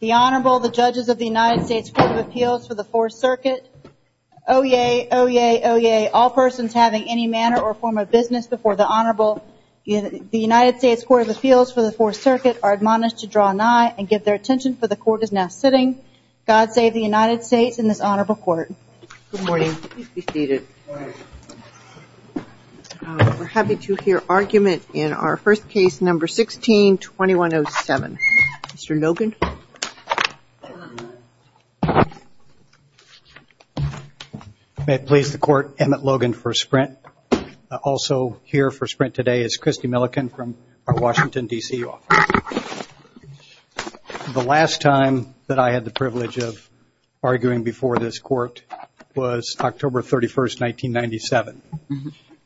The Honorable, the Judges of the United States Court of Appeals for the 4th Circuit. Oyez, oyez, oyez, all persons having any manner or form of business before the Honorable, the United States Court of Appeals for the 4th Circuit are admonished to draw an eye and give their attention for the Court is now sitting. God save the United States and this Honorable Court. Good morning. Please be seated. We're happy to hear argument in our first case, number 16-2107. Mr. Logan. May it please the Court, Emmett Logan for Sprint. Also here for Sprint today is Christy Milliken from our Washington, D.C. office. The last time that I had the privilege of arguing before this Court was October 31st, 1997.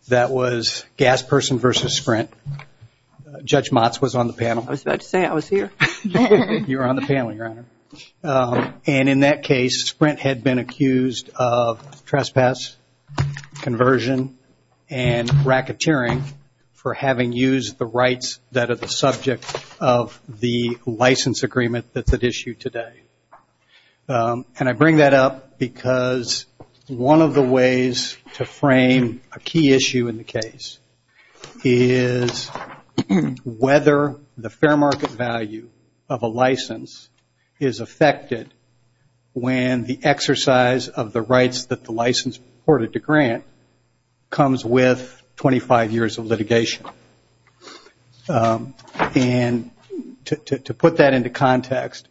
That was Gas Person v. Sprint. Judge Motz was on the panel. I was about to say I was here. You were on the panel, Your Honor. And in that case, Sprint had been accused of trespass, conversion, and racketeering for having used the rights that are the subject of the license agreement that's at issue today. And I bring that up because one of the ways to frame a key issue in the case is whether the fair market value of a license is affected when the exercise of the rights that the license reported to grant comes with 25 years of litigation. And to put that into context,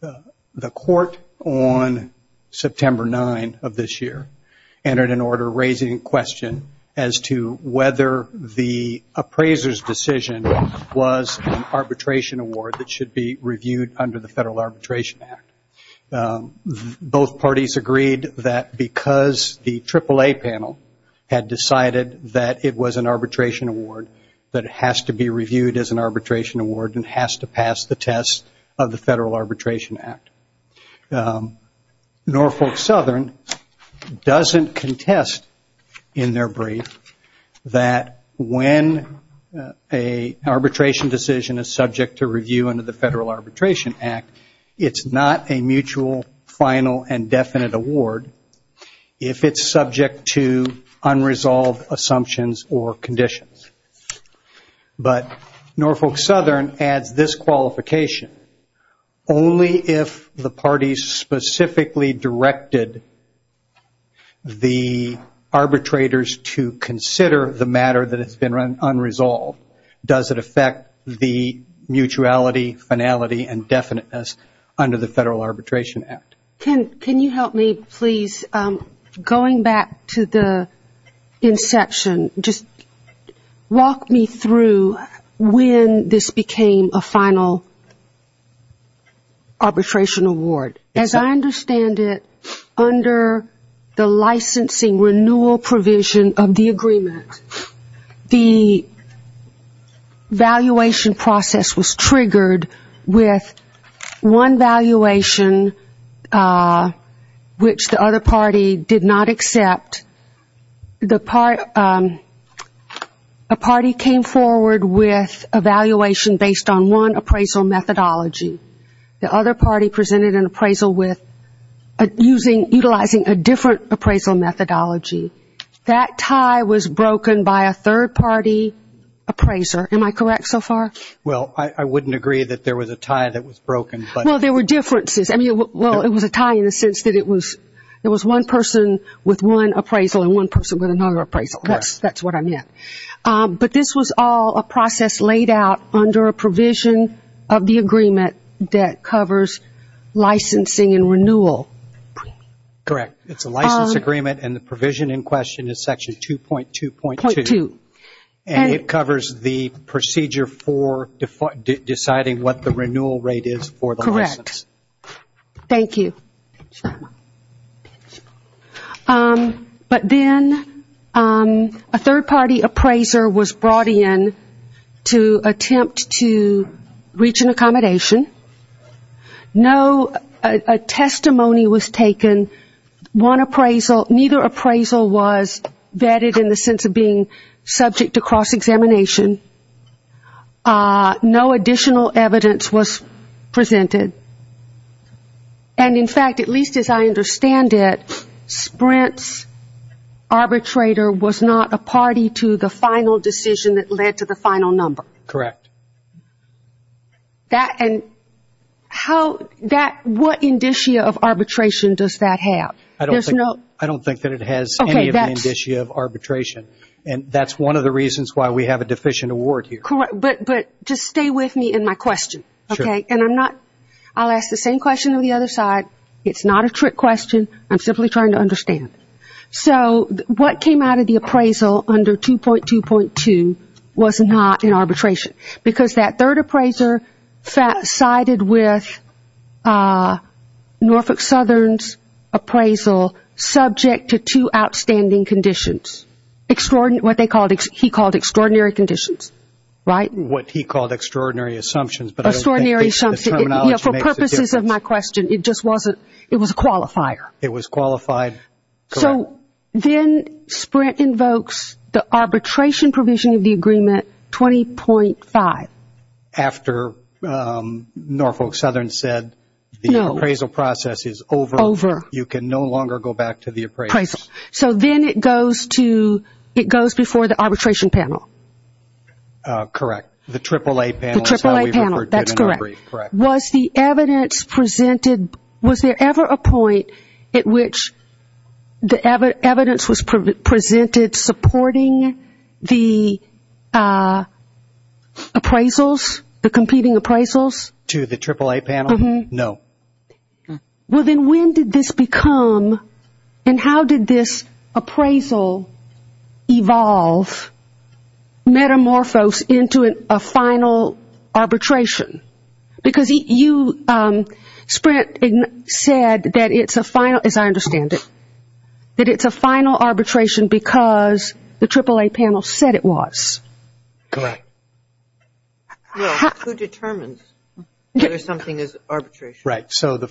the Court on September 9th of this year entered an order raising a question as to whether the appraiser's decision was an arbitration award that should be reviewed under the Federal Arbitration Act. Both parties agreed that because the AAA panel had decided that it was an arbitration award, that it has to be reviewed as an arbitration award and has to pass the test of the Federal Arbitration Act. Norfolk Southern doesn't contest in their brief that when an arbitration decision is subject to review under the Federal Arbitration Act, it's not a mutual, final, and definite award if it's subject to unresolved assumptions or conditions. But Norfolk Southern adds this qualification. Only if the parties specifically directed the arbitrators to consider the matter that has been unresolved does it affect the mutuality, finality, and definiteness under the Federal Arbitration Act. Can you help me, please? Going back to the inception, just walk me through when this became a final arbitration award. As I understand it, under the licensing renewal provision of the agreement, the valuation process was triggered with one valuation which the other party did not accept. A party came forward with a valuation based on one appraisal methodology. The other party presented an appraisal utilizing a different appraisal methodology. That tie was broken by a third-party appraiser. Am I correct so far? Well, I wouldn't agree that there was a tie that was broken. Well, there were differences. I mean, well, it was a tie in the sense that it was one person with one appraisal and one person with another appraisal. That's what I meant. But this was all a process laid out under a provision of the agreement that covers licensing and renewal. Correct. It's a license agreement and the provision in question is Section 2.2.2. And it covers the procedure for deciding what the renewal rate is for the license. Correct. Thank you. But then a third-party appraiser was brought in to attempt to reach an accommodation. No testimony was taken. Neither appraisal was vetted in the sense of being subject to cross-examination. No additional evidence was presented. And, in fact, at least as I understand it, Sprint's arbitrator was not a party to the final decision that led to the final number. Correct. And what indicia of arbitration does that have? I don't think that it has any indicia of arbitration. And that's one of the reasons why we have a deficient award here. But just stay with me in my question, okay? I'll ask the same question on the other side. It's not a trick question. I'm simply trying to understand. So what came out of the appraisal under 2.2.2 was not an arbitration, because that third appraiser sided with Norfolk Southern's appraisal subject to two outstanding conditions, what he called extraordinary conditions, right? What he called extraordinary assumptions. Extraordinary assumptions. For purposes of my question, it just wasn't, it was a qualifier. It was qualified. So then Sprint invokes the arbitration provision of the agreement 20.5. After Norfolk Southern said the appraisal process is over, you can no longer go back to the appraisal. So then it goes to, it goes before the arbitration panel. Correct. The AAA panel. The AAA panel. That's correct. Was the evidence presented, was there ever a point at which the evidence was presented supporting the appraisals, the competing appraisals? To the AAA panel? No. Well, then when did this become, and how did this appraisal evolve metamorphose into a final arbitration? Because you, Sprint, said that it's a final, as I understand it, that it's a final arbitration because the AAA panel said it was. Correct. Well, who determines whether something is arbitration? Right. So the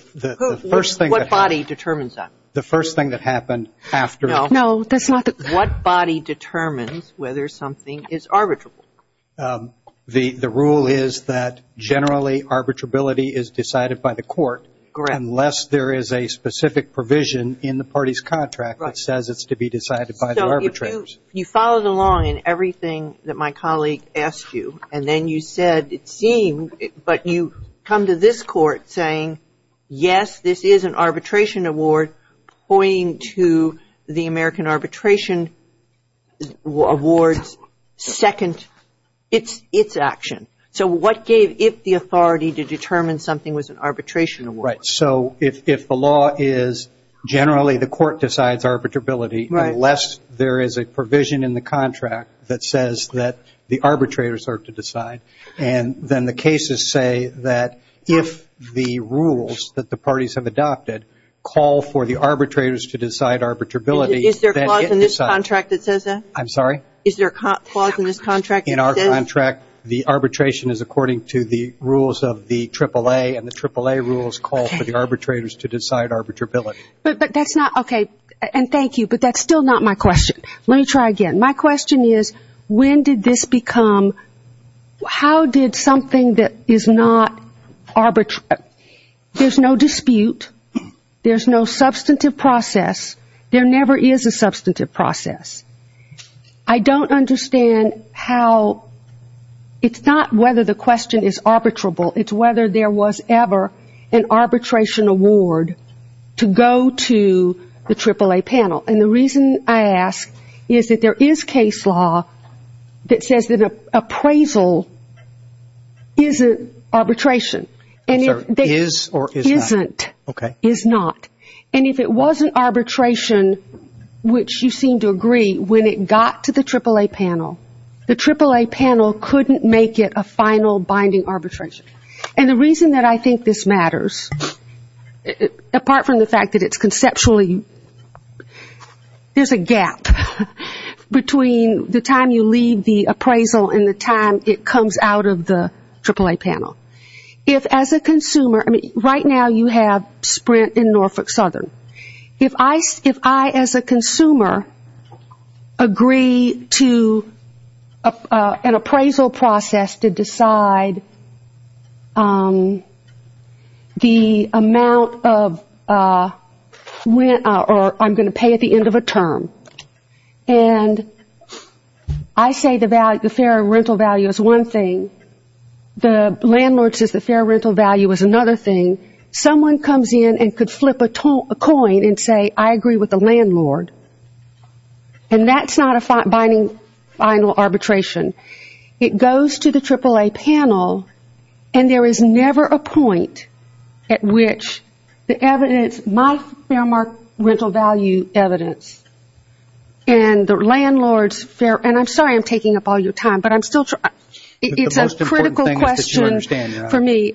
first thing. What body determines that? The first thing that happened after. No, that's not the. What body determines whether something is arbitrable? The rule is that generally arbitrability is decided by the court. Correct. Unless there is a specific provision in the party's contract that says it's to be decided by the arbitrators. You followed along in everything that my colleague asked you, and then you said it seemed, but you come to this court saying, yes, this is an arbitration award, pointing to the American Arbitration Award's second, its action. So what gave it the authority to determine something was an arbitration award? Right. So if the law is generally the court decides arbitrability, unless there is a provision in the contract that says that the arbitrators are to decide, and then the cases say that if the rules that the parties have adopted call for the arbitrators to decide arbitrability, then it decides. Is there a clause in this contract that says that? I'm sorry? Is there a clause in this contract that says? In our contract, the arbitration is according to the rules of the AAA, and the AAA rules call for the arbitrators to decide arbitrability. But that's not, okay, and thank you, but that's still not my question. Let me try again. My question is, when did this become, how did something that is not, there's no dispute, there's no substantive process, there never is a substantive process. I don't understand how, it's not whether the question is arbitrable, it's whether there was ever an arbitration award to go to the AAA panel. And the reason I ask is that there is case law that says that appraisal isn't arbitration. Is or is not? Isn't. Okay. Is not. And if it wasn't arbitration, which you seem to agree, when it got to the AAA panel, the AAA panel couldn't make it a final binding arbitration. And the reason that I think this matters, apart from the fact that it's conceptually, there's a gap between the time you leave the appraisal and the time it comes out of the AAA panel. If as a consumer, I mean, right now you have Sprint in Norfolk Southern. If I, as a consumer, agree to an appraisal process to decide the amount of rent, or I'm going to pay at the end of a term, and I say the fair rental value is one thing, the landlord says the fair rental value is another thing, someone comes in and could flip a coin and say, I agree with the landlord. And that's not a binding final arbitration. It goes to the AAA panel, and there is never a point at which the evidence, my fair rental value evidence and the landlord's fair, and I'm sorry I'm taking up all your time, but I'm still trying. It's a critical question for me.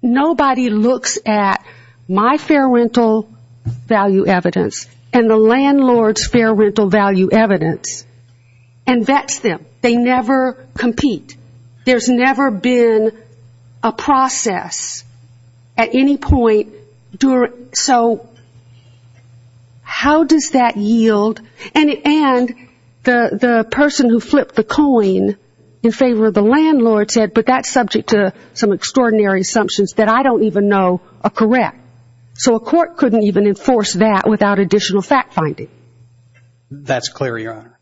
Nobody looks at my fair rental value evidence and the landlord's fair rental value evidence and vets them. They never compete. There's never been a process at any point. So how does that yield? And the person who flipped the coin in favor of the landlord said, but that's subject to some extraordinary assumptions that I don't even know are correct. So a court couldn't even enforce that without additional fact-finding. That's clear, Your Honor.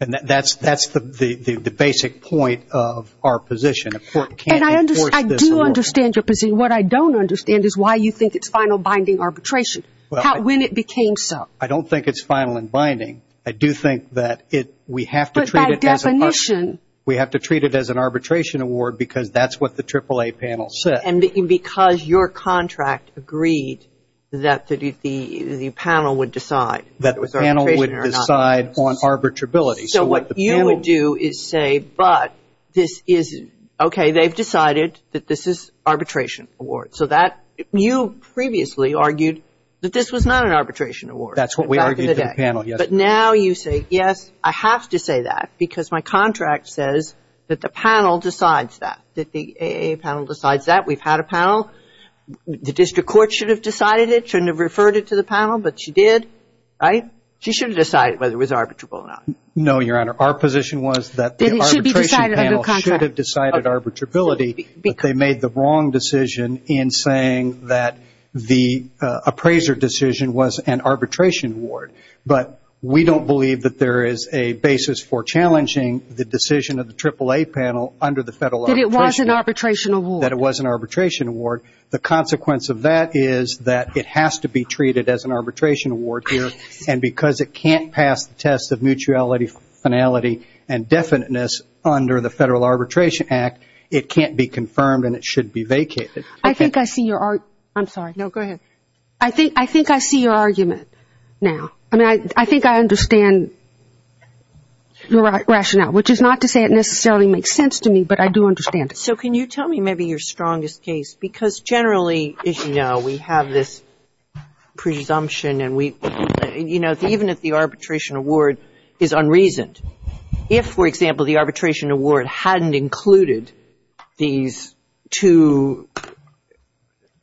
And that's the basic point of our position. A court can't enforce this. And I do understand your position. What I don't understand is why you think it's final binding arbitration, when it became so. I don't think it's final in binding. I do think that we have to treat it as an arbitration. It's an arbitration award because that's what the AAA panel said. And because your contract agreed that the panel would decide. That the panel would decide on arbitrability. So what you would do is say, but this is, okay, they've decided that this is arbitration award. So you previously argued that this was not an arbitration award. That's what we argued to the panel, yes. Now you say, yes, I have to say that because my contract says that the panel decides that. That the AAA panel decides that. We've had a panel. The district court should have decided it, should have referred it to the panel, but she did, right? She should have decided whether it was arbitrable or not. No, Your Honor. Our position was that the arbitration panel should have decided arbitrability, but they made the wrong decision in saying that the appraiser decision was an arbitration award. But we don't believe that there is a basis for challenging the decision of the AAA panel under the Federal Arbitration Act. That it was an arbitration award. That it was an arbitration award. The consequence of that is that it has to be treated as an arbitration award here. And because it can't pass the test of mutuality, finality, and definiteness under the Federal Arbitration Act, it can't be confirmed and it should be vacated. I think I see your argument. I'm sorry. No, go ahead. I think I see your argument now. I mean, I think I understand your rationale. Which is not to say it necessarily makes sense to me, but I do understand it. So can you tell me maybe your strongest case? Because generally, as you know, we have this presumption and we, you know, even if the arbitration award is unreasoned, if, for example, the arbitration award hadn't included these two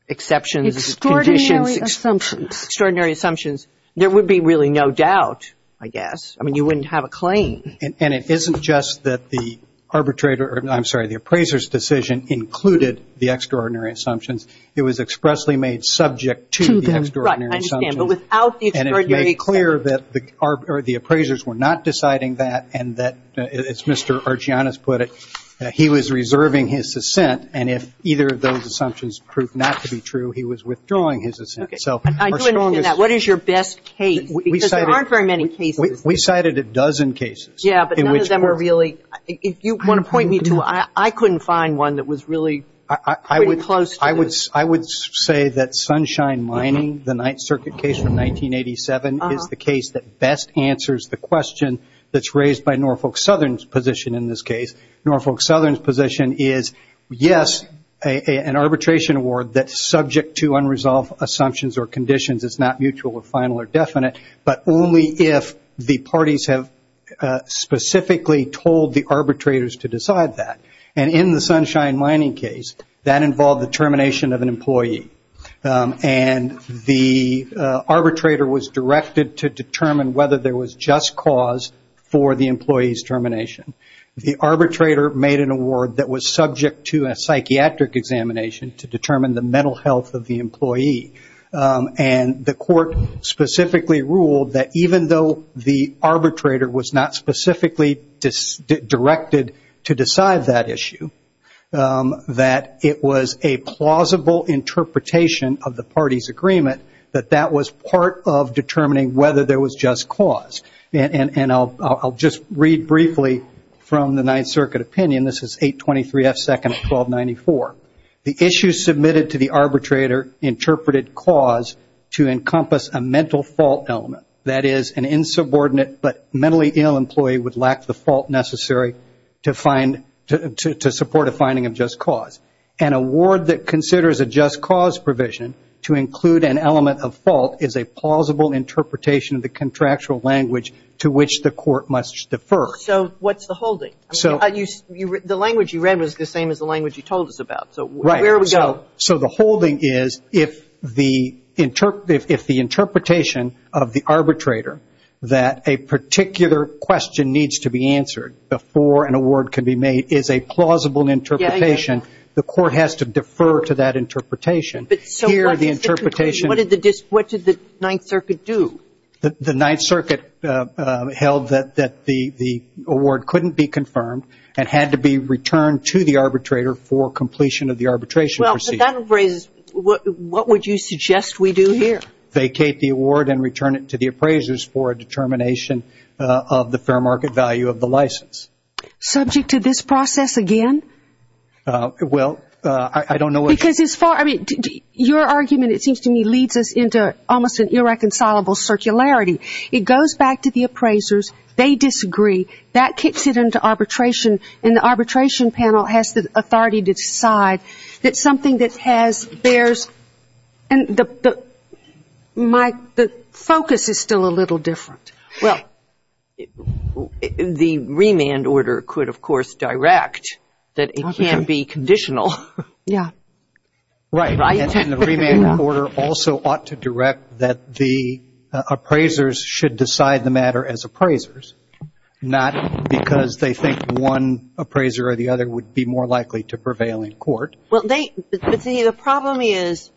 exceptions, conditions. Extraordinary assumptions. Extraordinary assumptions. There would be really no doubt, I guess. I mean, you wouldn't have a claim. And it isn't just that the arbitrator, I'm sorry, the appraiser's decision included the extraordinary assumptions. It was expressly made subject to the extraordinary assumptions. Right, I understand. But without the extraordinary assumptions. It was made clear that the appraisers were not deciding that and that, as Mr. Archianas put it, that he was reserving his assent. And if either of those assumptions proved not to be true, he was withdrawing his assent. Okay. I do understand that. What is your best case? Because there aren't very many cases. We cited a dozen cases. Yeah, but none of them were really. If you want to point me to one, I couldn't find one that was really pretty close to this. I would say that Sunshine Mining, the Ninth Circuit case from 1987, is the case that best answers the question that's raised by Norfolk Southern's position in this case. Norfolk Southern's position is, yes, an arbitration award that's subject to unresolved assumptions or conditions. It's not mutual or final or definite. But only if the parties have specifically told the arbitrators to decide that. And in the Sunshine Mining case, that involved the termination of an employee. And the arbitrator was directed to determine whether there was just cause for the employee's termination. The arbitrator made an award that was subject to a psychiatric examination to determine the mental health of the employee. And the court specifically ruled that even though the arbitrator was not specifically directed to decide that issue, that it was a plausible interpretation of the party's agreement, that that was part of determining whether there was just cause. And I'll just read briefly from the Ninth Circuit opinion. This is 823 F. 2nd of 1294. The issue submitted to the arbitrator interpreted cause to encompass a mental fault element. That is, an insubordinate but mentally ill employee would lack the fault necessary to support a finding of just cause. An award that considers a just cause provision to include an element of fault is a plausible interpretation of the contractual language to which the court must defer. So what's the holding? The language you read was the same as the language you told us about. So where do we go? So the holding is if the interpretation of the arbitrator, that a particular question needs to be answered before an award can be made, is a plausible interpretation, the court has to defer to that interpretation. So what did the Ninth Circuit do? The Ninth Circuit held that the award couldn't be confirmed and had to be returned to the arbitrator for completion of the arbitration procedure. Well, but that raises, what would you suggest we do here? Vacate the award and return it to the appraisers for a determination of the fair market value of the license. Subject to this process again? Well, I don't know what you mean. Because as far, I mean, your argument, it seems to me, leads us into almost an irreconcilable circularity. It goes back to the appraisers. They disagree. That kicks it into arbitration, and the arbitration panel has the authority to decide that something that has, bears, and the focus is still a little different. Well, the remand order could, of course, direct that it can be conditional. Yeah. Right. And the remand order also ought to direct that the appraisers should decide the matter as appraisers, not because they think one appraiser or the other would be more likely to prevail in court. Well, the problem is,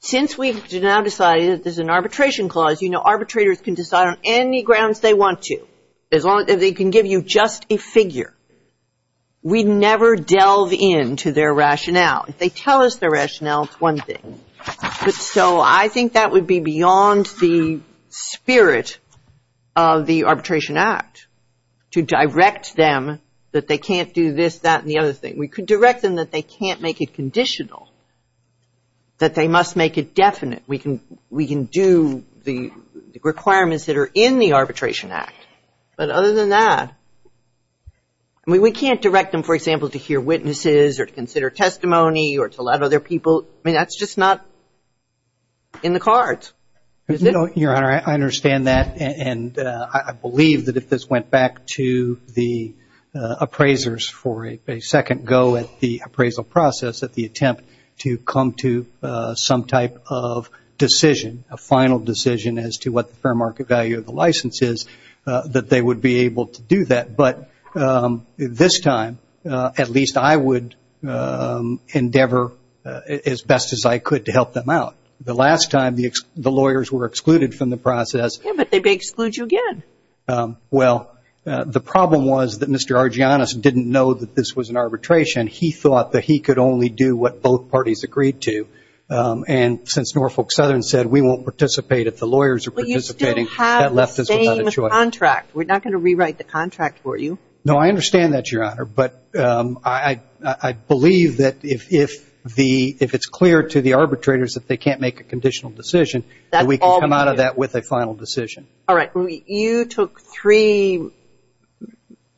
since we've now decided there's an arbitration clause, you know arbitrators can decide on any grounds they want to as long as they can give you just a figure. We never delve into their rationale. If they tell us their rationale, it's one thing. So I think that would be beyond the spirit of the Arbitration Act, to direct them that they can't do this, that, and the other thing. We could direct them that they can't make it conditional, that they must make it definite. We can do the requirements that are in the Arbitration Act. But other than that, I mean, we can't direct them, for example, to hear witnesses or to consider testimony or to let other people. I mean, that's just not in the cards. Your Honor, I understand that, and I believe that if this went back to the appraisers for a second go at the appraisal process, at the attempt to come to some type of decision, a final decision as to what the fair market value of the license is, that they would be able to do that. But this time, at least I would endeavor as best as I could to help them out. The last time, the lawyers were excluded from the process. Yeah, but they may exclude you again. Well, the problem was that Mr. Argyanus didn't know that this was an arbitration. He thought that he could only do what both parties agreed to. And since Norfolk Southern said we won't participate if the lawyers are participating, that left us without a choice. But you still have the same contract. We're not going to rewrite the contract for you. No, I understand that, Your Honor. But I believe that if it's clear to the arbitrators that they can't make a conditional decision, that we can come out of that with a final decision. All right. You took three,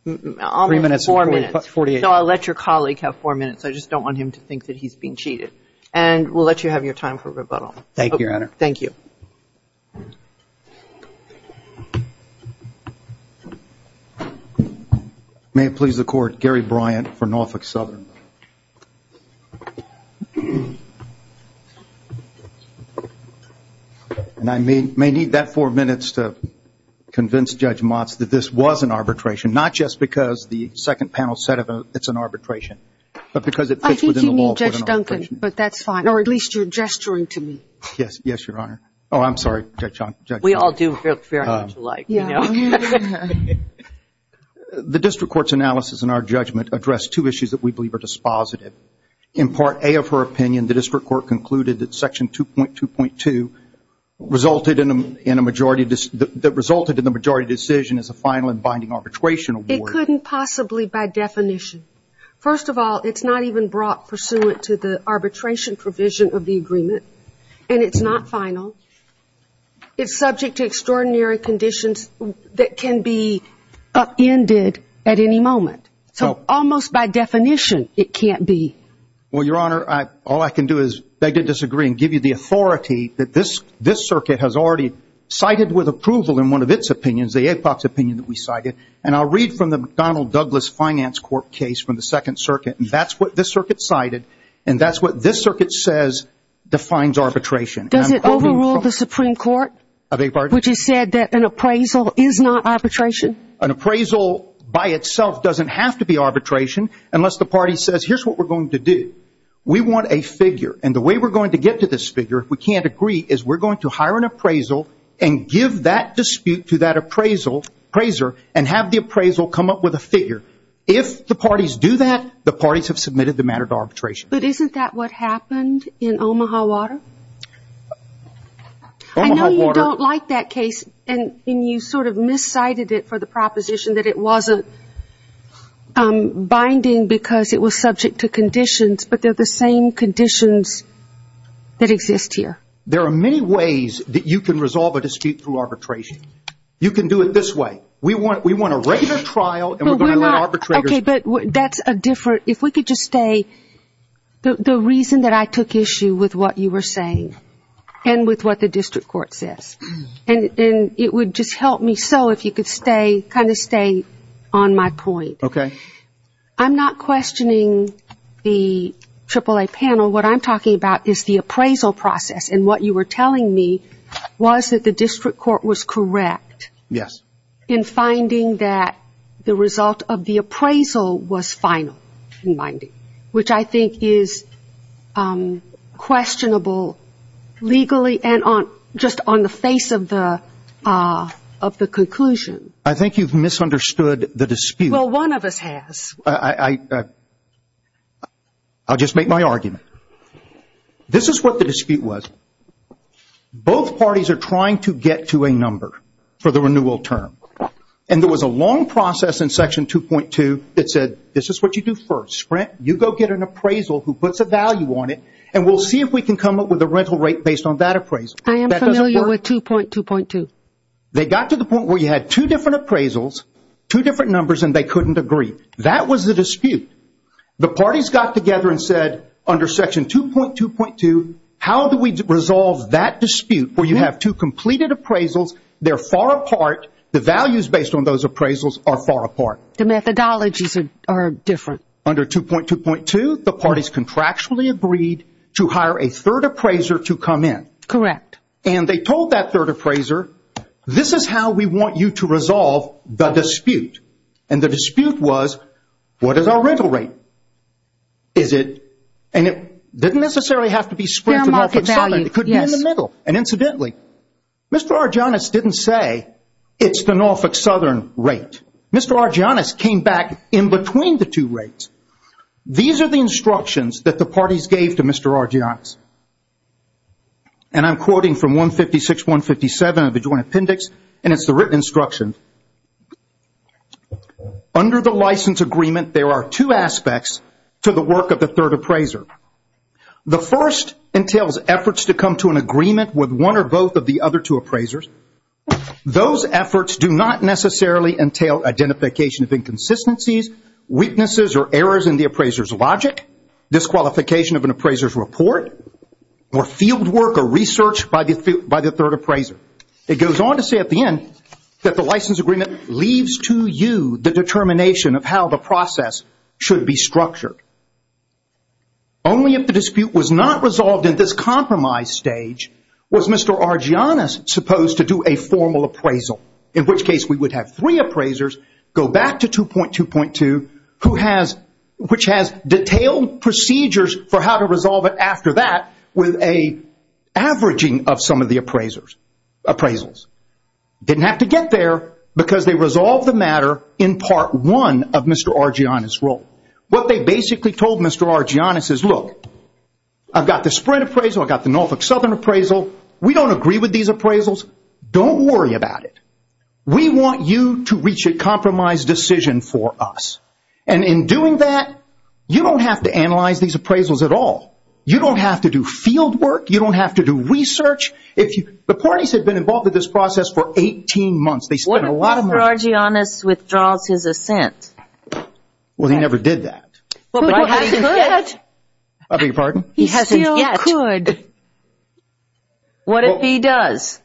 almost four minutes. Three minutes and 48 seconds. So I'll let your colleague have four minutes. I just don't want him to think that he's being cheated. And we'll let you have your time for rebuttal. Thank you, Your Honor. Thank you. May it please the Court, Gary Bryant for Norfolk Southern. And I may need that four minutes to convince Judge Motz that this was an arbitration, not just because the second panel said it's an arbitration, but because it fits within the law. Judge Duncan, but that's fine. Or at least you're gesturing to me. Yes. Yes, Your Honor. Oh, I'm sorry, Judge Johnson. We all do very much alike, you know. The district court's analysis in our judgment addressed two issues that we believe are dispositive. In Part A of her opinion, the district court concluded that Section 2.2.2 resulted in the majority decision as a final and binding arbitration award. It couldn't possibly by definition. First of all, it's not even brought pursuant to the arbitration provision of the agreement. And it's not final. It's subject to extraordinary conditions that can be upended at any moment. So almost by definition, it can't be. Well, Your Honor, all I can do is beg to disagree and give you the authority that this circuit has already cited with approval in one of its opinions, the APOC's opinion that we cited. And I'll read from the McDonnell Douglas Finance Court case from the Second Circuit. And that's what this circuit cited. And that's what this circuit says defines arbitration. Does it overrule the Supreme Court? I beg your pardon? Which has said that an appraisal is not arbitration? An appraisal by itself doesn't have to be arbitration unless the party says here's what we're going to do. We want a figure. And the way we're going to get to this figure, if we can't agree, is we're going to hire an appraisal and give that dispute to that appraiser and have the appraisal come up with a figure. If the parties do that, the parties have submitted the matter to arbitration. But isn't that what happened in Omaha Water? I know you don't like that case, and you sort of miscited it for the proposition that it wasn't binding because it was subject to conditions, but they're the same conditions that exist here. There are many ways that you can resolve a dispute through arbitration. You can do it this way. We want a regular trial, and we're going to let arbitrators. Okay, but that's a different, if we could just stay, the reason that I took issue with what you were saying and with what the district court says, and it would just help me so if you could stay, kind of stay on my point. Okay. I'm not questioning the AAA panel. What I'm talking about is the appraisal process, and what you were telling me was that the district court was correct. Yes. In finding that the result of the appraisal was final in binding, which I think is questionable legally and just on the face of the conclusion. I think you've misunderstood the dispute. Well, one of us has. I'll just make my argument. This is what the dispute was. Both parties are trying to get to a number for the renewal term, and there was a long process in Section 2.2 that said this is what you do first. Sprint. You go get an appraisal who puts a value on it, and we'll see if we can come up with a rental rate based on that appraisal. I am familiar with 2.2.2. They got to the point where you had two different appraisals, two different numbers, and they couldn't agree. That was the dispute. The parties got together and said, under Section 2.2.2, how do we resolve that dispute where you have two completed appraisals, they're far apart, the values based on those appraisals are far apart. The methodologies are different. Under 2.2.2, the parties contractually agreed to hire a third appraiser to come in. Correct. And they told that third appraiser, this is how we want you to resolve the dispute. And the dispute was, what is our rental rate? And it didn't necessarily have to be Sprint for Norfolk Southern. It could be in the middle. And incidentally, Mr. Argyonis didn't say it's the Norfolk Southern rate. Mr. Argyonis came back in between the two rates. These are the instructions that the parties gave to Mr. Argyonis. And I'm quoting from 156.157 of the Joint Appendix, and it's the written instruction. Under the license agreement, there are two aspects to the work of the third appraiser. The first entails efforts to come to an agreement with one or both of the other two appraisers. Those efforts do not necessarily entail identification of inconsistencies, weaknesses, or errors in the appraiser's logic, disqualification of an appraiser's report, or fieldwork or research by the third appraiser. It goes on to say at the end that the license agreement leaves to you the determination of how the process should be structured. Only if the dispute was not resolved in this compromise stage was Mr. Argyonis supposed to do a formal appraisal, in which case we would have three appraisers go back to 2.2.2, which has detailed procedures for how to resolve it after that with an averaging of some of the appraisals. Didn't have to get there because they resolved the matter in Part 1 of Mr. Argyonis' role. What they basically told Mr. Argyonis is, look, I've got the Sprint appraisal. I've got the Norfolk Southern appraisal. We don't agree with these appraisals. Don't worry about it. We want you to reach a compromise decision for us. And in doing that, you don't have to analyze these appraisals at all. You don't have to do fieldwork. You don't have to do research. The parties have been involved in this process for 18 months. They spent a lot of money. What if Mr. Argyonis withdraws his assent? Well, he never did that. He hasn't yet. I beg your pardon? He hasn't yet. He still could. What if he does?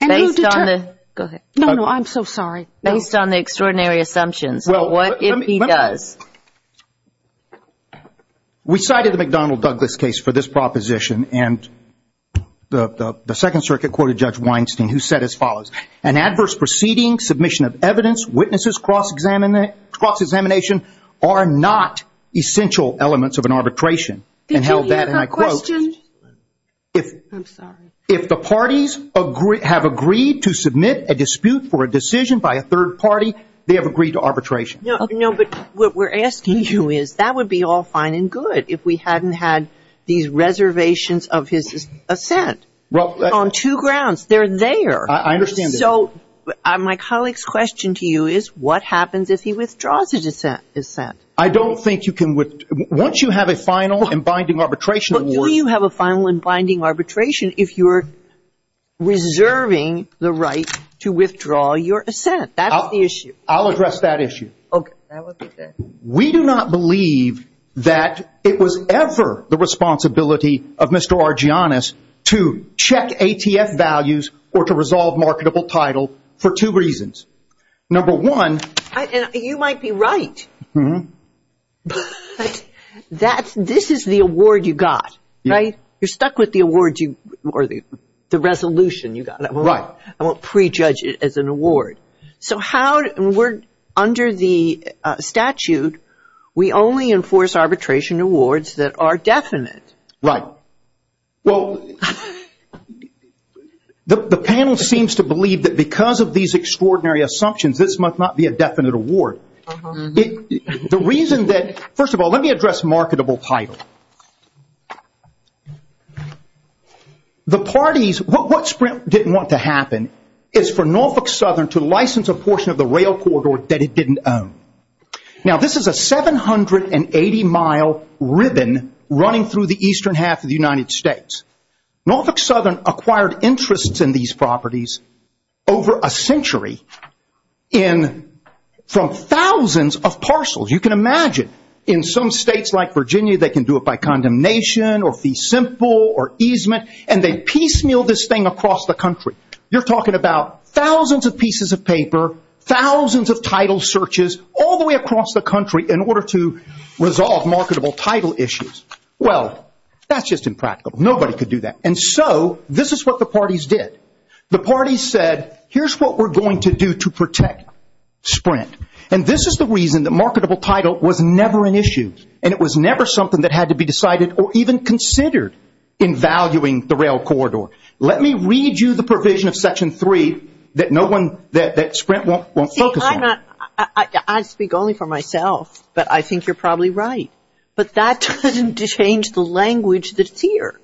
And who determines? Go ahead. No, no, I'm so sorry. Based on the extraordinary assumptions, what if he does? We cited the McDonnell-Douglas case for this proposition, and the Second Circuit quoted Judge Weinstein, who said as follows, an adverse proceeding, submission of evidence, witnesses, cross-examination, are not essential elements of an arbitration. Did you hear her question? I'm sorry. If the parties have agreed to submit a dispute for a decision by a third party, they have agreed to arbitration. No, but what we're asking you is that would be all fine and good if we hadn't had these reservations of his assent on two grounds. They're there. I understand that. So my colleague's question to you is what happens if he withdraws his assent? I don't think you can – once you have a final and binding arbitration. But you have a final and binding arbitration if you're reserving the right to withdraw your assent. That's the issue. I'll address that issue. Okay. We do not believe that it was ever the responsibility of Mr. Argyanus to check ATF values or to resolve marketable title for two reasons. Number one. You might be right. But this is the award you got, right? You're stuck with the award or the resolution you got. Right. I won't prejudge it as an award. So how – under the statute, we only enforce arbitration awards that are definite. Right. Well, the panel seems to believe that because of these extraordinary assumptions, this must not be a definite award. The reason that – first of all, let me address marketable title. The parties – what Sprint didn't want to happen is for Norfolk Southern to license a portion of the rail corridor that it didn't own. Now, this is a 780-mile ribbon running through the eastern half of the United States. Norfolk Southern acquired interests in these properties over a century from thousands of parcels. You can imagine in some states like Virginia, they can do it by condemnation or fee simple or easement, and they piecemeal this thing across the country. You're talking about thousands of pieces of paper, thousands of title searches all the way across the country in order to resolve marketable title issues. Well, that's just impractical. Nobody could do that. And so this is what the parties did. The parties said, here's what we're going to do to protect Sprint. And this is the reason that marketable title was never an issue, and it was never something that had to be decided or even considered in valuing the rail corridor. Let me read you the provision of Section 3 that Sprint won't focus on. See, I speak only for myself, but I think you're probably right. But that doesn't change the language that's here.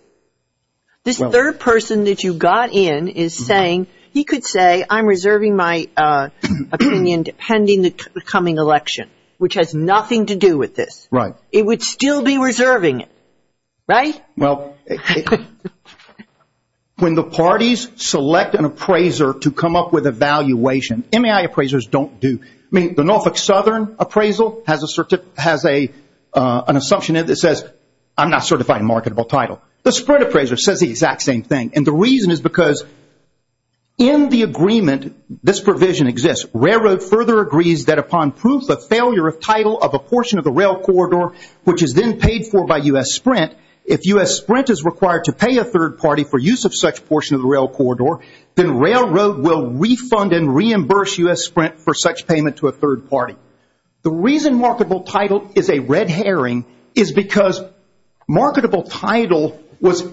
This third person that you got in is saying he could say, I'm reserving my opinion pending the coming election, which has nothing to do with this. Right. It would still be reserving it. Right? Well, when the parties select an appraiser to come up with a valuation, MAI appraisers don't do. I mean, the Norfolk Southern appraisal has an assumption in it that says, I'm not certifying marketable title. The Sprint appraiser says the exact same thing. And the reason is because in the agreement this provision exists, railroad further agrees that upon proof of failure of title of a portion of the rail corridor, which is then paid for by U.S. Sprint, if U.S. Sprint is required to pay a third party for use of such portion of the rail corridor, then railroad will refund and reimburse U.S. Sprint for such payment to a third party. The reason marketable title is a red herring is because marketable title was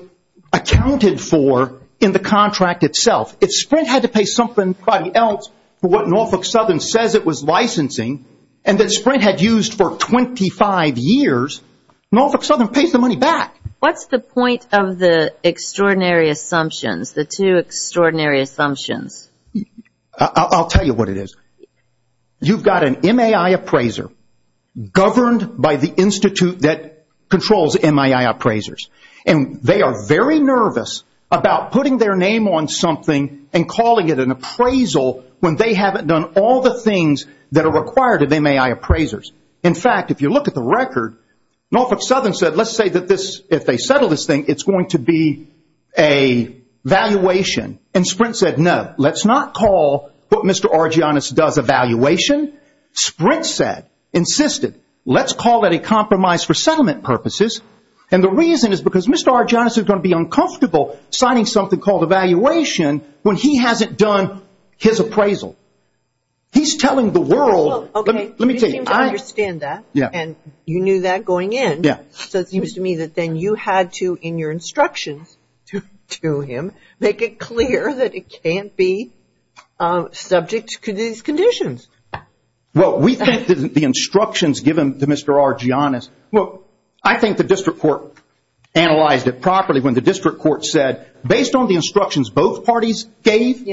accounted for in the contract itself. If Sprint had to pay somebody else for what Norfolk Southern says it was licensing and that Sprint had used for 25 years, Norfolk Southern pays the money back. What's the point of the extraordinary assumptions, the two extraordinary assumptions? I'll tell you what it is. You've got an MAI appraiser governed by the institute that controls MAI appraisers. And they are very nervous about putting their name on something and calling it an appraisal when they haven't done all the things that are required of MAI appraisers. In fact, if you look at the record, Norfolk Southern said, let's say that this, if they settle this thing, it's going to be a valuation. And Sprint said, no, let's not call what Mr. Argyonus does a valuation. Sprint said, insisted, let's call it a compromise for settlement purposes. And the reason is because Mr. Argyonus is going to be uncomfortable signing something called evaluation when he hasn't done his appraisal. He's telling the world. Let me tell you. You seem to understand that. Yeah. And you knew that going in. Yeah. So it seems to me that then you had to, in your instructions to him, make it clear that it can't be subject to these conditions. Well, we think that the instructions given to Mr. Argyonus, well, I think the district court analyzed it properly when the district court said, based on the instructions both parties gave,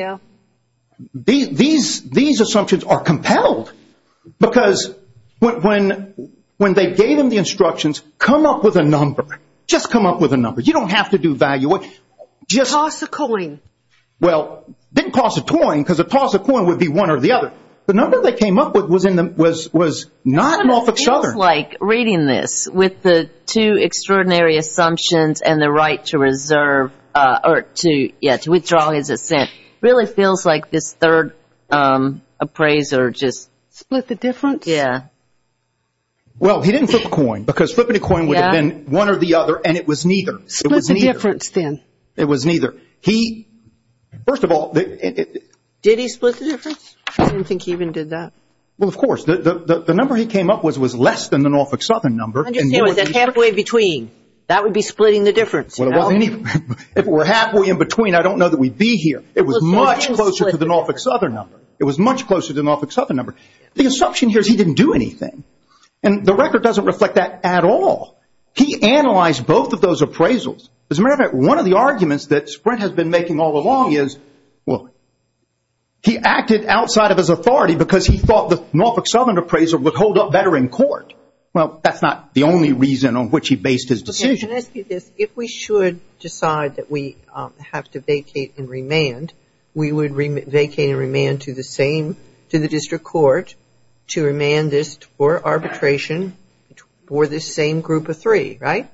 these assumptions are compelled. Because when they gave him the instructions, come up with a number. Just come up with a number. You don't have to do valuation. Toss a coin. Well, it didn't cost a coin because a toss of coin would be one or the other. The number they came up with was not an off the chart. It feels like reading this with the two extraordinary assumptions and the right to reserve or to, yeah, to withdraw his assent, really feels like this third appraiser just split the difference. Yeah. Well, he didn't flip a coin because flipping a coin would have been one or the other, and it was neither. Split the difference then. It was neither. He, first of all. Did he split the difference? I didn't think he even did that. Well, of course. The number he came up with was less than the Norfolk Southern number. Halfway between. That would be splitting the difference. If it were halfway in between, I don't know that we'd be here. It was much closer to the Norfolk Southern number. It was much closer to the Norfolk Southern number. The assumption here is he didn't do anything, and the record doesn't reflect that at all. He analyzed both of those appraisals. As a matter of fact, one of the arguments that Sprint has been making all along is, well, he acted outside of his authority because he thought the Norfolk Southern appraisal would hold up better in court. Well, that's not the only reason on which he based his decision. If we should decide that we have to vacate and remand, we would vacate and remand to the district court to remand this for arbitration for this same group of three, right?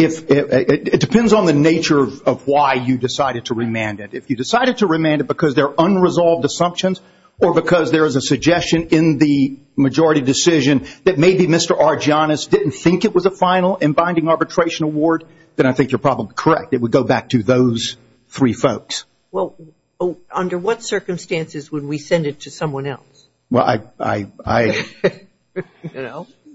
It depends on the nature of why you decided to remand it. If you decided to remand it because they're unresolved assumptions or because there is a suggestion in the majority decision that maybe Mr. Argyonus didn't think it was a final and binding arbitration award, then I think you're probably correct. It would go back to those three folks. Well, under what circumstances would we send it to someone else? Well,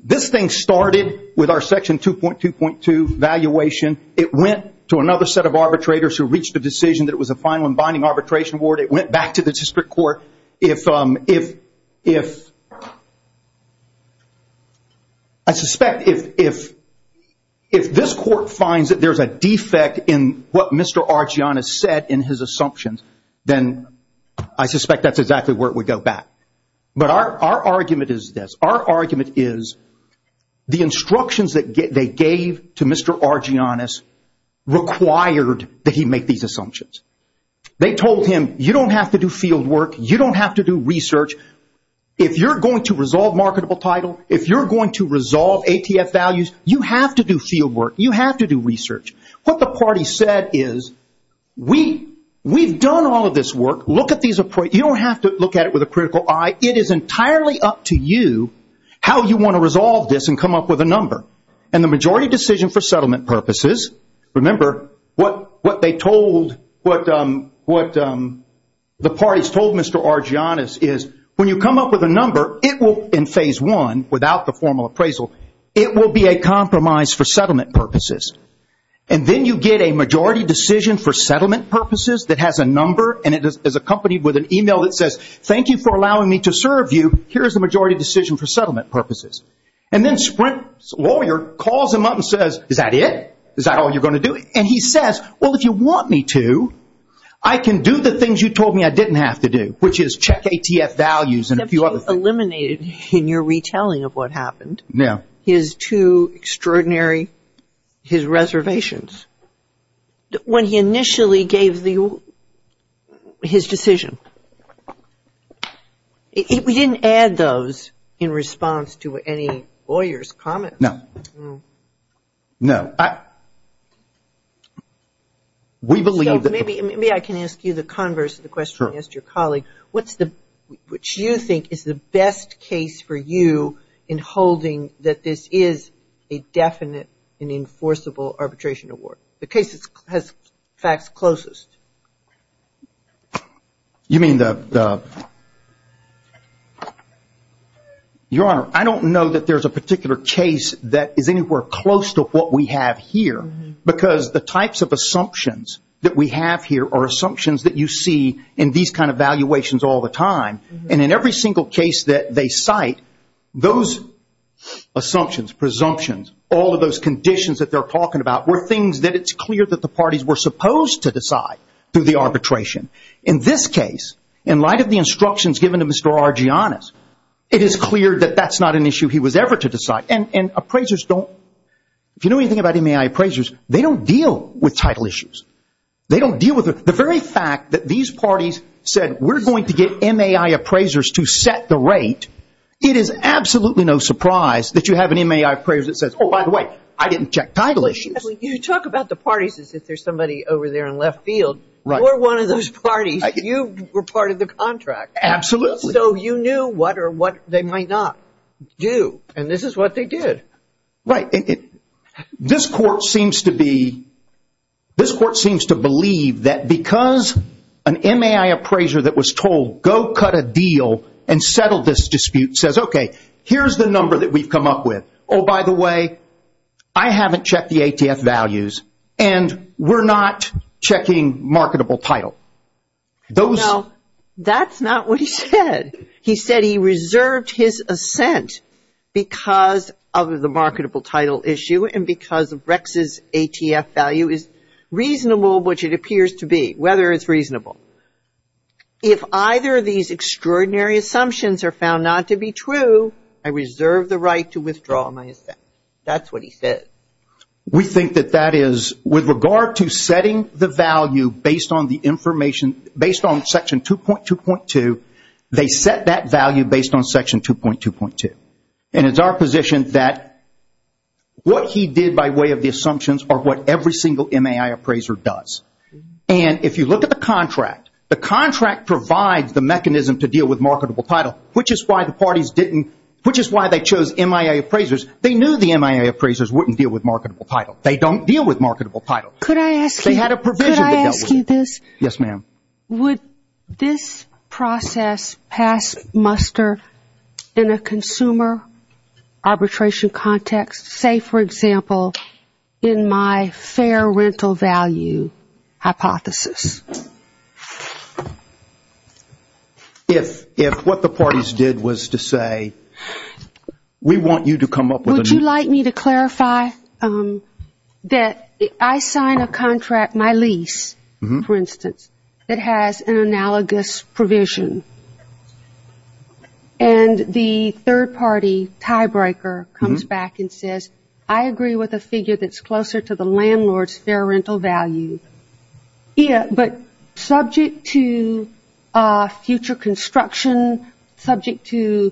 this thing started with our Section 2.2.2 valuation. It went to another set of arbitrators who reached a decision that it was a final and binding arbitration award. It went back to the district court. I suspect if this court finds that there's a defect in what Mr. Argyonus said in his assumptions, then I suspect that's exactly where it would go back. But our argument is this. Our argument is the instructions that they gave to Mr. Argyonus required that he make these assumptions. They told him you don't have to do field work. You don't have to do research. If you're going to resolve marketable title, if you're going to resolve ATF values, you have to do field work. You have to do research. What the party said is we've done all of this work. Look at these. You don't have to look at it with a critical eye. It is entirely up to you how you want to resolve this and come up with a number. And the majority decision for settlement purposes, remember what the parties told Mr. Argyonus is when you come up with a number, in phase one, without the formal appraisal, it will be a compromise for settlement purposes. And then you get a majority decision for settlement purposes that has a number, and it is accompanied with an e-mail that says thank you for allowing me to serve you. Here is the majority decision for settlement purposes. And then Sprint's lawyer calls him up and says, is that it? Is that all you're going to do? And he says, well, if you want me to, I can do the things you told me I didn't have to do, which is check ATF values and a few other things. You eliminated in your retelling of what happened his two extraordinary reservations. When he initially gave his decision. We didn't add those in response to any lawyer's comments. No. No. Maybe I can ask you the converse of the question I asked your colleague. What you think is the best case for you in holding that this is a definite and enforceable arbitration award? The case that has facts closest. You mean the – Your Honor, I don't know that there is a particular case that is anywhere close to what we have here. Because the types of assumptions that we have here are assumptions that you see in these kind of valuations all the time. And in every single case that they cite, those assumptions, presumptions, all of those conditions that they're talking about were things that it's clear that the parties were supposed to decide through the arbitration. In this case, in light of the instructions given to Mr. Argianes, it is clear that that's not an issue he was ever to decide. And appraisers don't – If you know anything about MAI appraisers, they don't deal with title issues. They don't deal with – The very fact that these parties said, we're going to get MAI appraisers to set the rate, it is absolutely no surprise that you have an MAI appraiser that says, oh, by the way, I didn't check title issues. You talk about the parties as if there's somebody over there in left field. You're one of those parties. You were part of the contract. Absolutely. So you knew what or what they might not do. And this is what they did. Right. This court seems to be – This court seems to believe that because an MAI appraiser that was told, go cut a deal and settle this dispute, says, okay, here's the number that we've come up with. Oh, by the way, I haven't checked the ATF values, and we're not checking marketable title. No, that's not what he said. He said he reserved his assent because of the marketable title issue and because of Rex's ATF value is reasonable, which it appears to be, whether it's reasonable. If either of these extraordinary assumptions are found not to be true, I reserve the right to withdraw my assent. That's what he said. We think that that is, with regard to setting the value based on the information, based on section 2.2.2, they set that value based on section 2.2.2. And it's our position that what he did by way of the assumptions are what every single MAI appraiser does. And if you look at the contract, the contract provides the mechanism to deal with marketable title, which is why the parties didn't – which is why they chose MAI appraisers. They knew the MAI appraisers wouldn't deal with marketable title. They don't deal with marketable title. Could I ask you – They had a provision that dealt with it. Could I ask you this? Yes, ma'am. Would this process pass muster in a consumer arbitration context? Say, for example, in my fair rental value hypothesis. If what the parties did was to say, we want you to come up with a new – Would you like me to clarify that I sign a contract, my lease, for instance, that has an analogous provision, and the third party tiebreaker comes back and says, I agree with a figure that's closer to the landlord's fair rental value. Yeah, but subject to future construction, subject to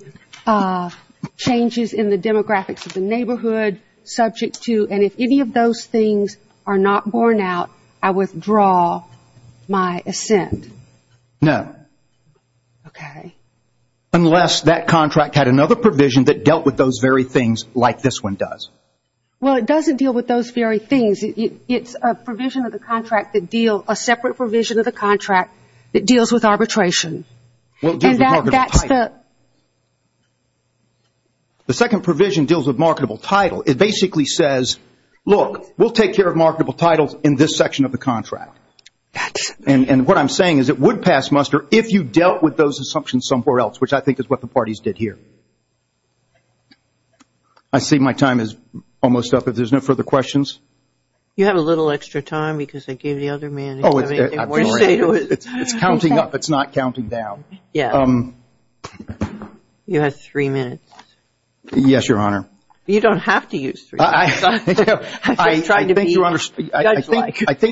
changes in the demographics of the neighborhood, subject to – and if any of those things are not borne out, I withdraw my assent. No. Okay. Unless that contract had another provision that dealt with those very things like this one does. Well, it doesn't deal with those very things. It's a provision of the contract that deal – a separate provision of the contract that deals with arbitration. And that's the – The second provision deals with marketable title. It basically says, look, we'll take care of marketable titles in this section of the contract. And what I'm saying is it would pass muster if you dealt with those assumptions somewhere else, which I think is what the parties did here. I see my time is almost up. If there's no further questions. You have a little extra time because I gave the other man – Oh, it's counting up. It's not counting down. Yeah. You have three minutes. Yes, Your Honor. You don't have to use three minutes. I think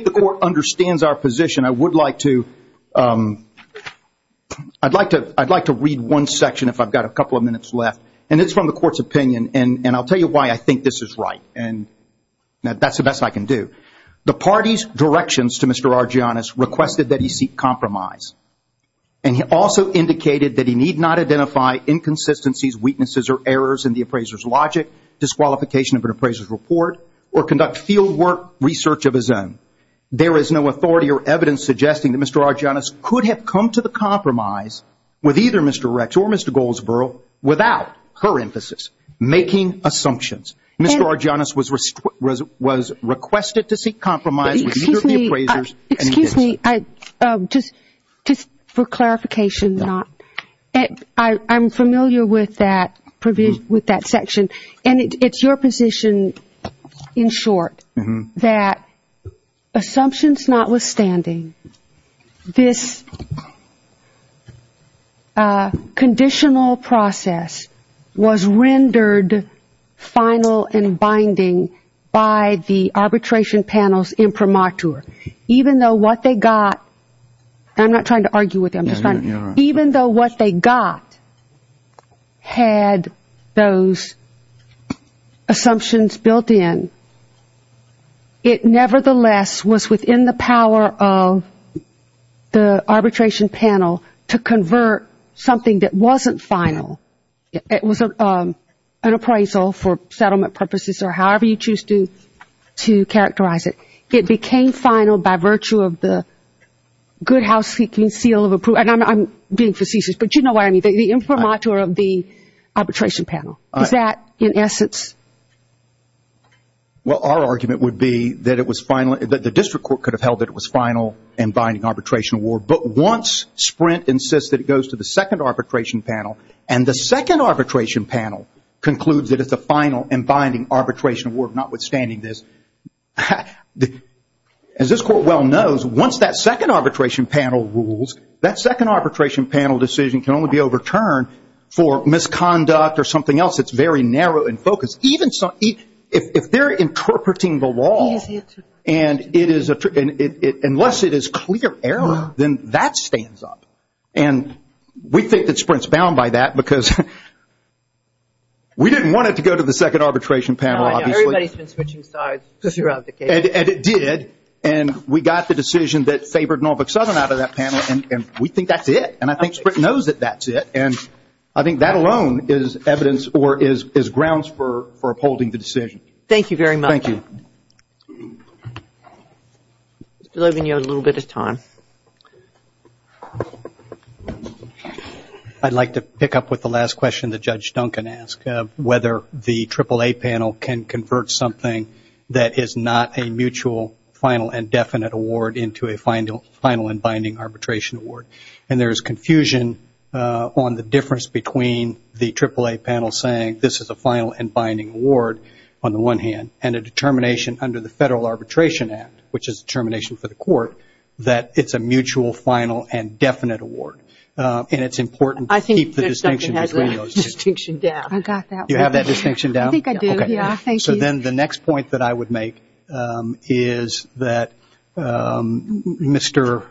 the court understands our position. I would like to – I'd like to read one section if I've got a couple of minutes left. And it's from the court's opinion. And I'll tell you why I think this is right. And that's the best I can do. The party's directions to Mr. Argyanus requested that he seek compromise. And he also indicated that he need not identify inconsistencies, weaknesses, or errors in the appraiser's logic, disqualification of an appraiser's report, or conduct fieldwork research of his own. There is no authority or evidence suggesting that Mr. Argyanus could have come to the compromise with either Mr. Rex or Mr. Goldsboro without her emphasis, making assumptions. Mr. Argyanus was requested to seek compromise with either of the appraisers. Excuse me. Just for clarification, I'm familiar with that section. And it's your position, in short, that assumptions notwithstanding, this conditional process was rendered final and binding by the arbitration panels in premature, even though what they got – and I'm not trying to argue with you. Even though what they got had those assumptions built in, it nevertheless was within the power of the arbitration panel to convert something that wasn't final. It was an appraisal for settlement purposes or however you choose to characterize it. It became final by virtue of the good house-seeking seal of approval. And I'm being facetious, but you know what I mean. The infirmature of the arbitration panel. Is that, in essence? Well, our argument would be that it was final – that the district court could have held that it was final and binding arbitration award. But once Sprint insists that it goes to the second arbitration panel, and the second arbitration panel concludes that it's a final and binding arbitration award notwithstanding this, as this court well knows, once that second arbitration panel rules, that second arbitration panel decision can only be overturned for misconduct or something else that's very narrow and focused. If they're interpreting the law and it is – unless it is clear error, then that stands up. And we think that Sprint's bound by that because we didn't want it to go to the second arbitration panel, obviously. Somebody's been switching sides throughout the case. And it did. And we got the decision that favored Norfolk Southern out of that panel, and we think that's it. And I think Sprint knows that that's it. And I think that alone is evidence or is grounds for upholding the decision. Thank you very much. Thank you. Mr. Logan, you have a little bit of time. I'd like to pick up with the last question that Judge Duncan asked, whether the AAA panel can convert something that is not a mutual final and definite award into a final and binding arbitration award. And there is confusion on the difference between the AAA panel saying this is a final and binding award on the one hand, and a determination under the Federal Arbitration Act, which is determination for the court, that it's a mutual final and definite award. And it's important to keep the distinction between those two. I think Judge Duncan has that distinction down. I got that one. You have that distinction down? I think I do, yeah. Thank you. So then the next point that I would make is that Mr.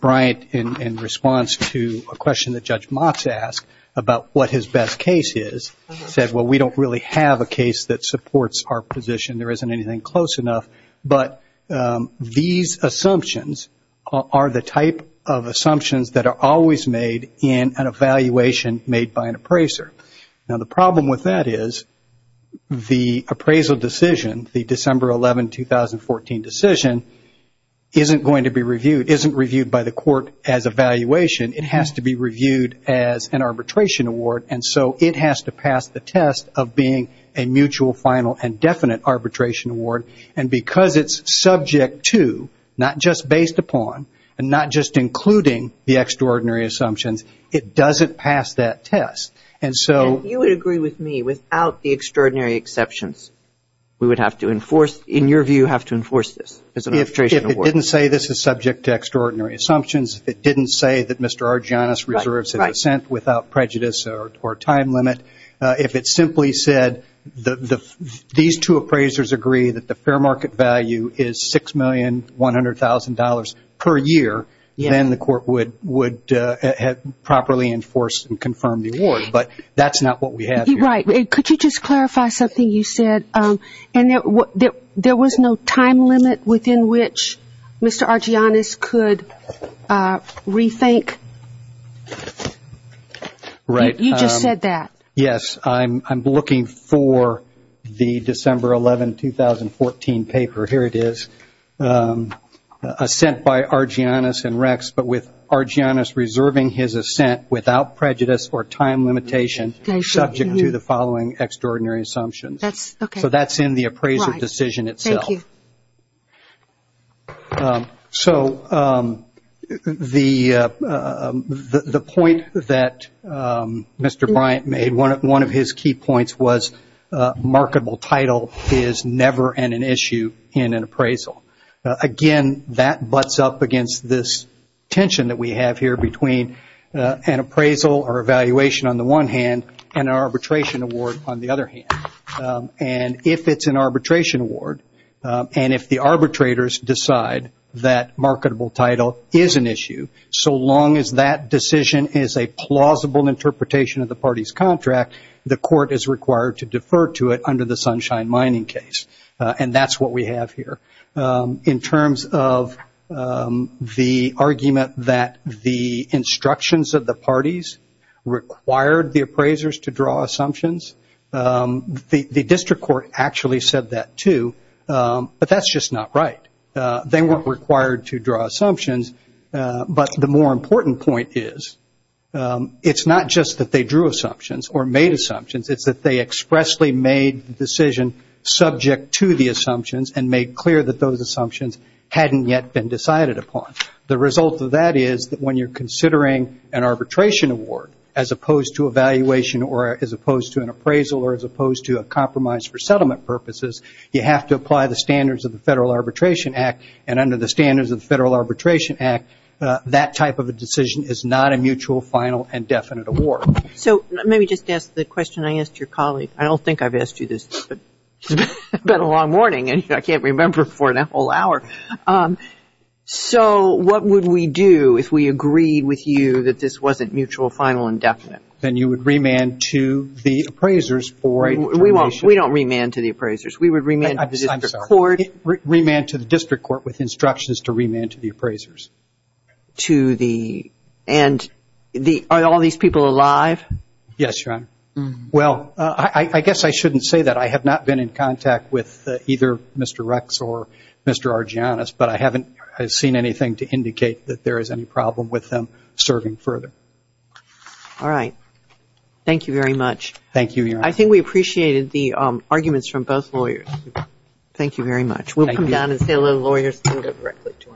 Bryant, in response to a question that Judge Motz asked about what his best case is, said, well, we don't really have a case that supports our position. There isn't anything close enough. But these assumptions are the type of assumptions that are always made in an evaluation made by an appraiser. Now, the problem with that is the appraisal decision, the December 11, 2014 decision, isn't going to be reviewed, isn't reviewed by the court as a valuation. It has to be reviewed as an arbitration award. And so it has to pass the test of being a mutual final and definite arbitration award and because it's subject to, not just based upon, and not just including the extraordinary assumptions, it doesn't pass that test. And if you would agree with me without the extraordinary exceptions, we would have to enforce, in your view, have to enforce this as an arbitration award. If it didn't say this is subject to extraordinary assumptions, if it didn't say that Mr. Argyanus reserves his assent without prejudice or time limit, if it simply said these two appraisers agree that the fair market value is $6,100,000 per year, then the court would have properly enforced and confirmed the award. But that's not what we have here. Right. Could you just clarify something you said? And there was no time limit within which Mr. Argyanus could rethink? Right. You just said that. Yes. I'm looking for the December 11, 2014 paper. Here it is. Assent by Argyanus and Rex, but with Argyanus reserving his assent without prejudice or time limitation subject to the following extraordinary assumptions. That's okay. So that's in the appraiser decision itself. Thank you. So the point that Mr. Bryant made, one of his key points was marketable title is never an issue in an appraisal. Again, that butts up against this tension that we have here between an appraisal or evaluation on the one hand and an arbitration award on the other hand. And if it's an arbitration award and if the arbitrators decide that marketable title is an issue, so long as that decision is a plausible interpretation of the party's contract, the court is required to defer to it under the Sunshine Mining case. And that's what we have here. In terms of the argument that the instructions of the parties required the appraisers to draw assumptions, the district court actually said that too, but that's just not right. They weren't required to draw assumptions, but the more important point is it's not just that they drew assumptions or made assumptions, it's that they expressly made the decision subject to the assumptions and made clear that those assumptions hadn't yet been decided upon. The result of that is that when you're considering an arbitration award as opposed to evaluation or as opposed to an appraisal or as opposed to a compromise for settlement purposes, you have to apply the standards of the Federal Arbitration Act. And under the standards of the Federal Arbitration Act, that type of a decision is not a mutual, final, and definite award. So let me just ask the question I asked your colleague. I don't think I've asked you this, but it's been a long morning and I can't remember for an whole hour. So what would we do if we agreed with you that this wasn't mutual, final, and definite? Then you would remand to the appraisers for determination. We don't remand to the appraisers. We would remand to the district court. Remand to the district court with instructions to remand to the appraisers. And are all these people alive? Yes, Your Honor. Well, I guess I shouldn't say that. I have not been in contact with either Mr. Rex or Mr. Argyanus, but I haven't seen anything to indicate that there is any problem with them serving further. All right. Thank you very much. Thank you, Your Honor. I think we appreciated the arguments from both lawyers. Thank you very much. Thank you. We'll come down and say hello to the lawyers and go directly to our next case.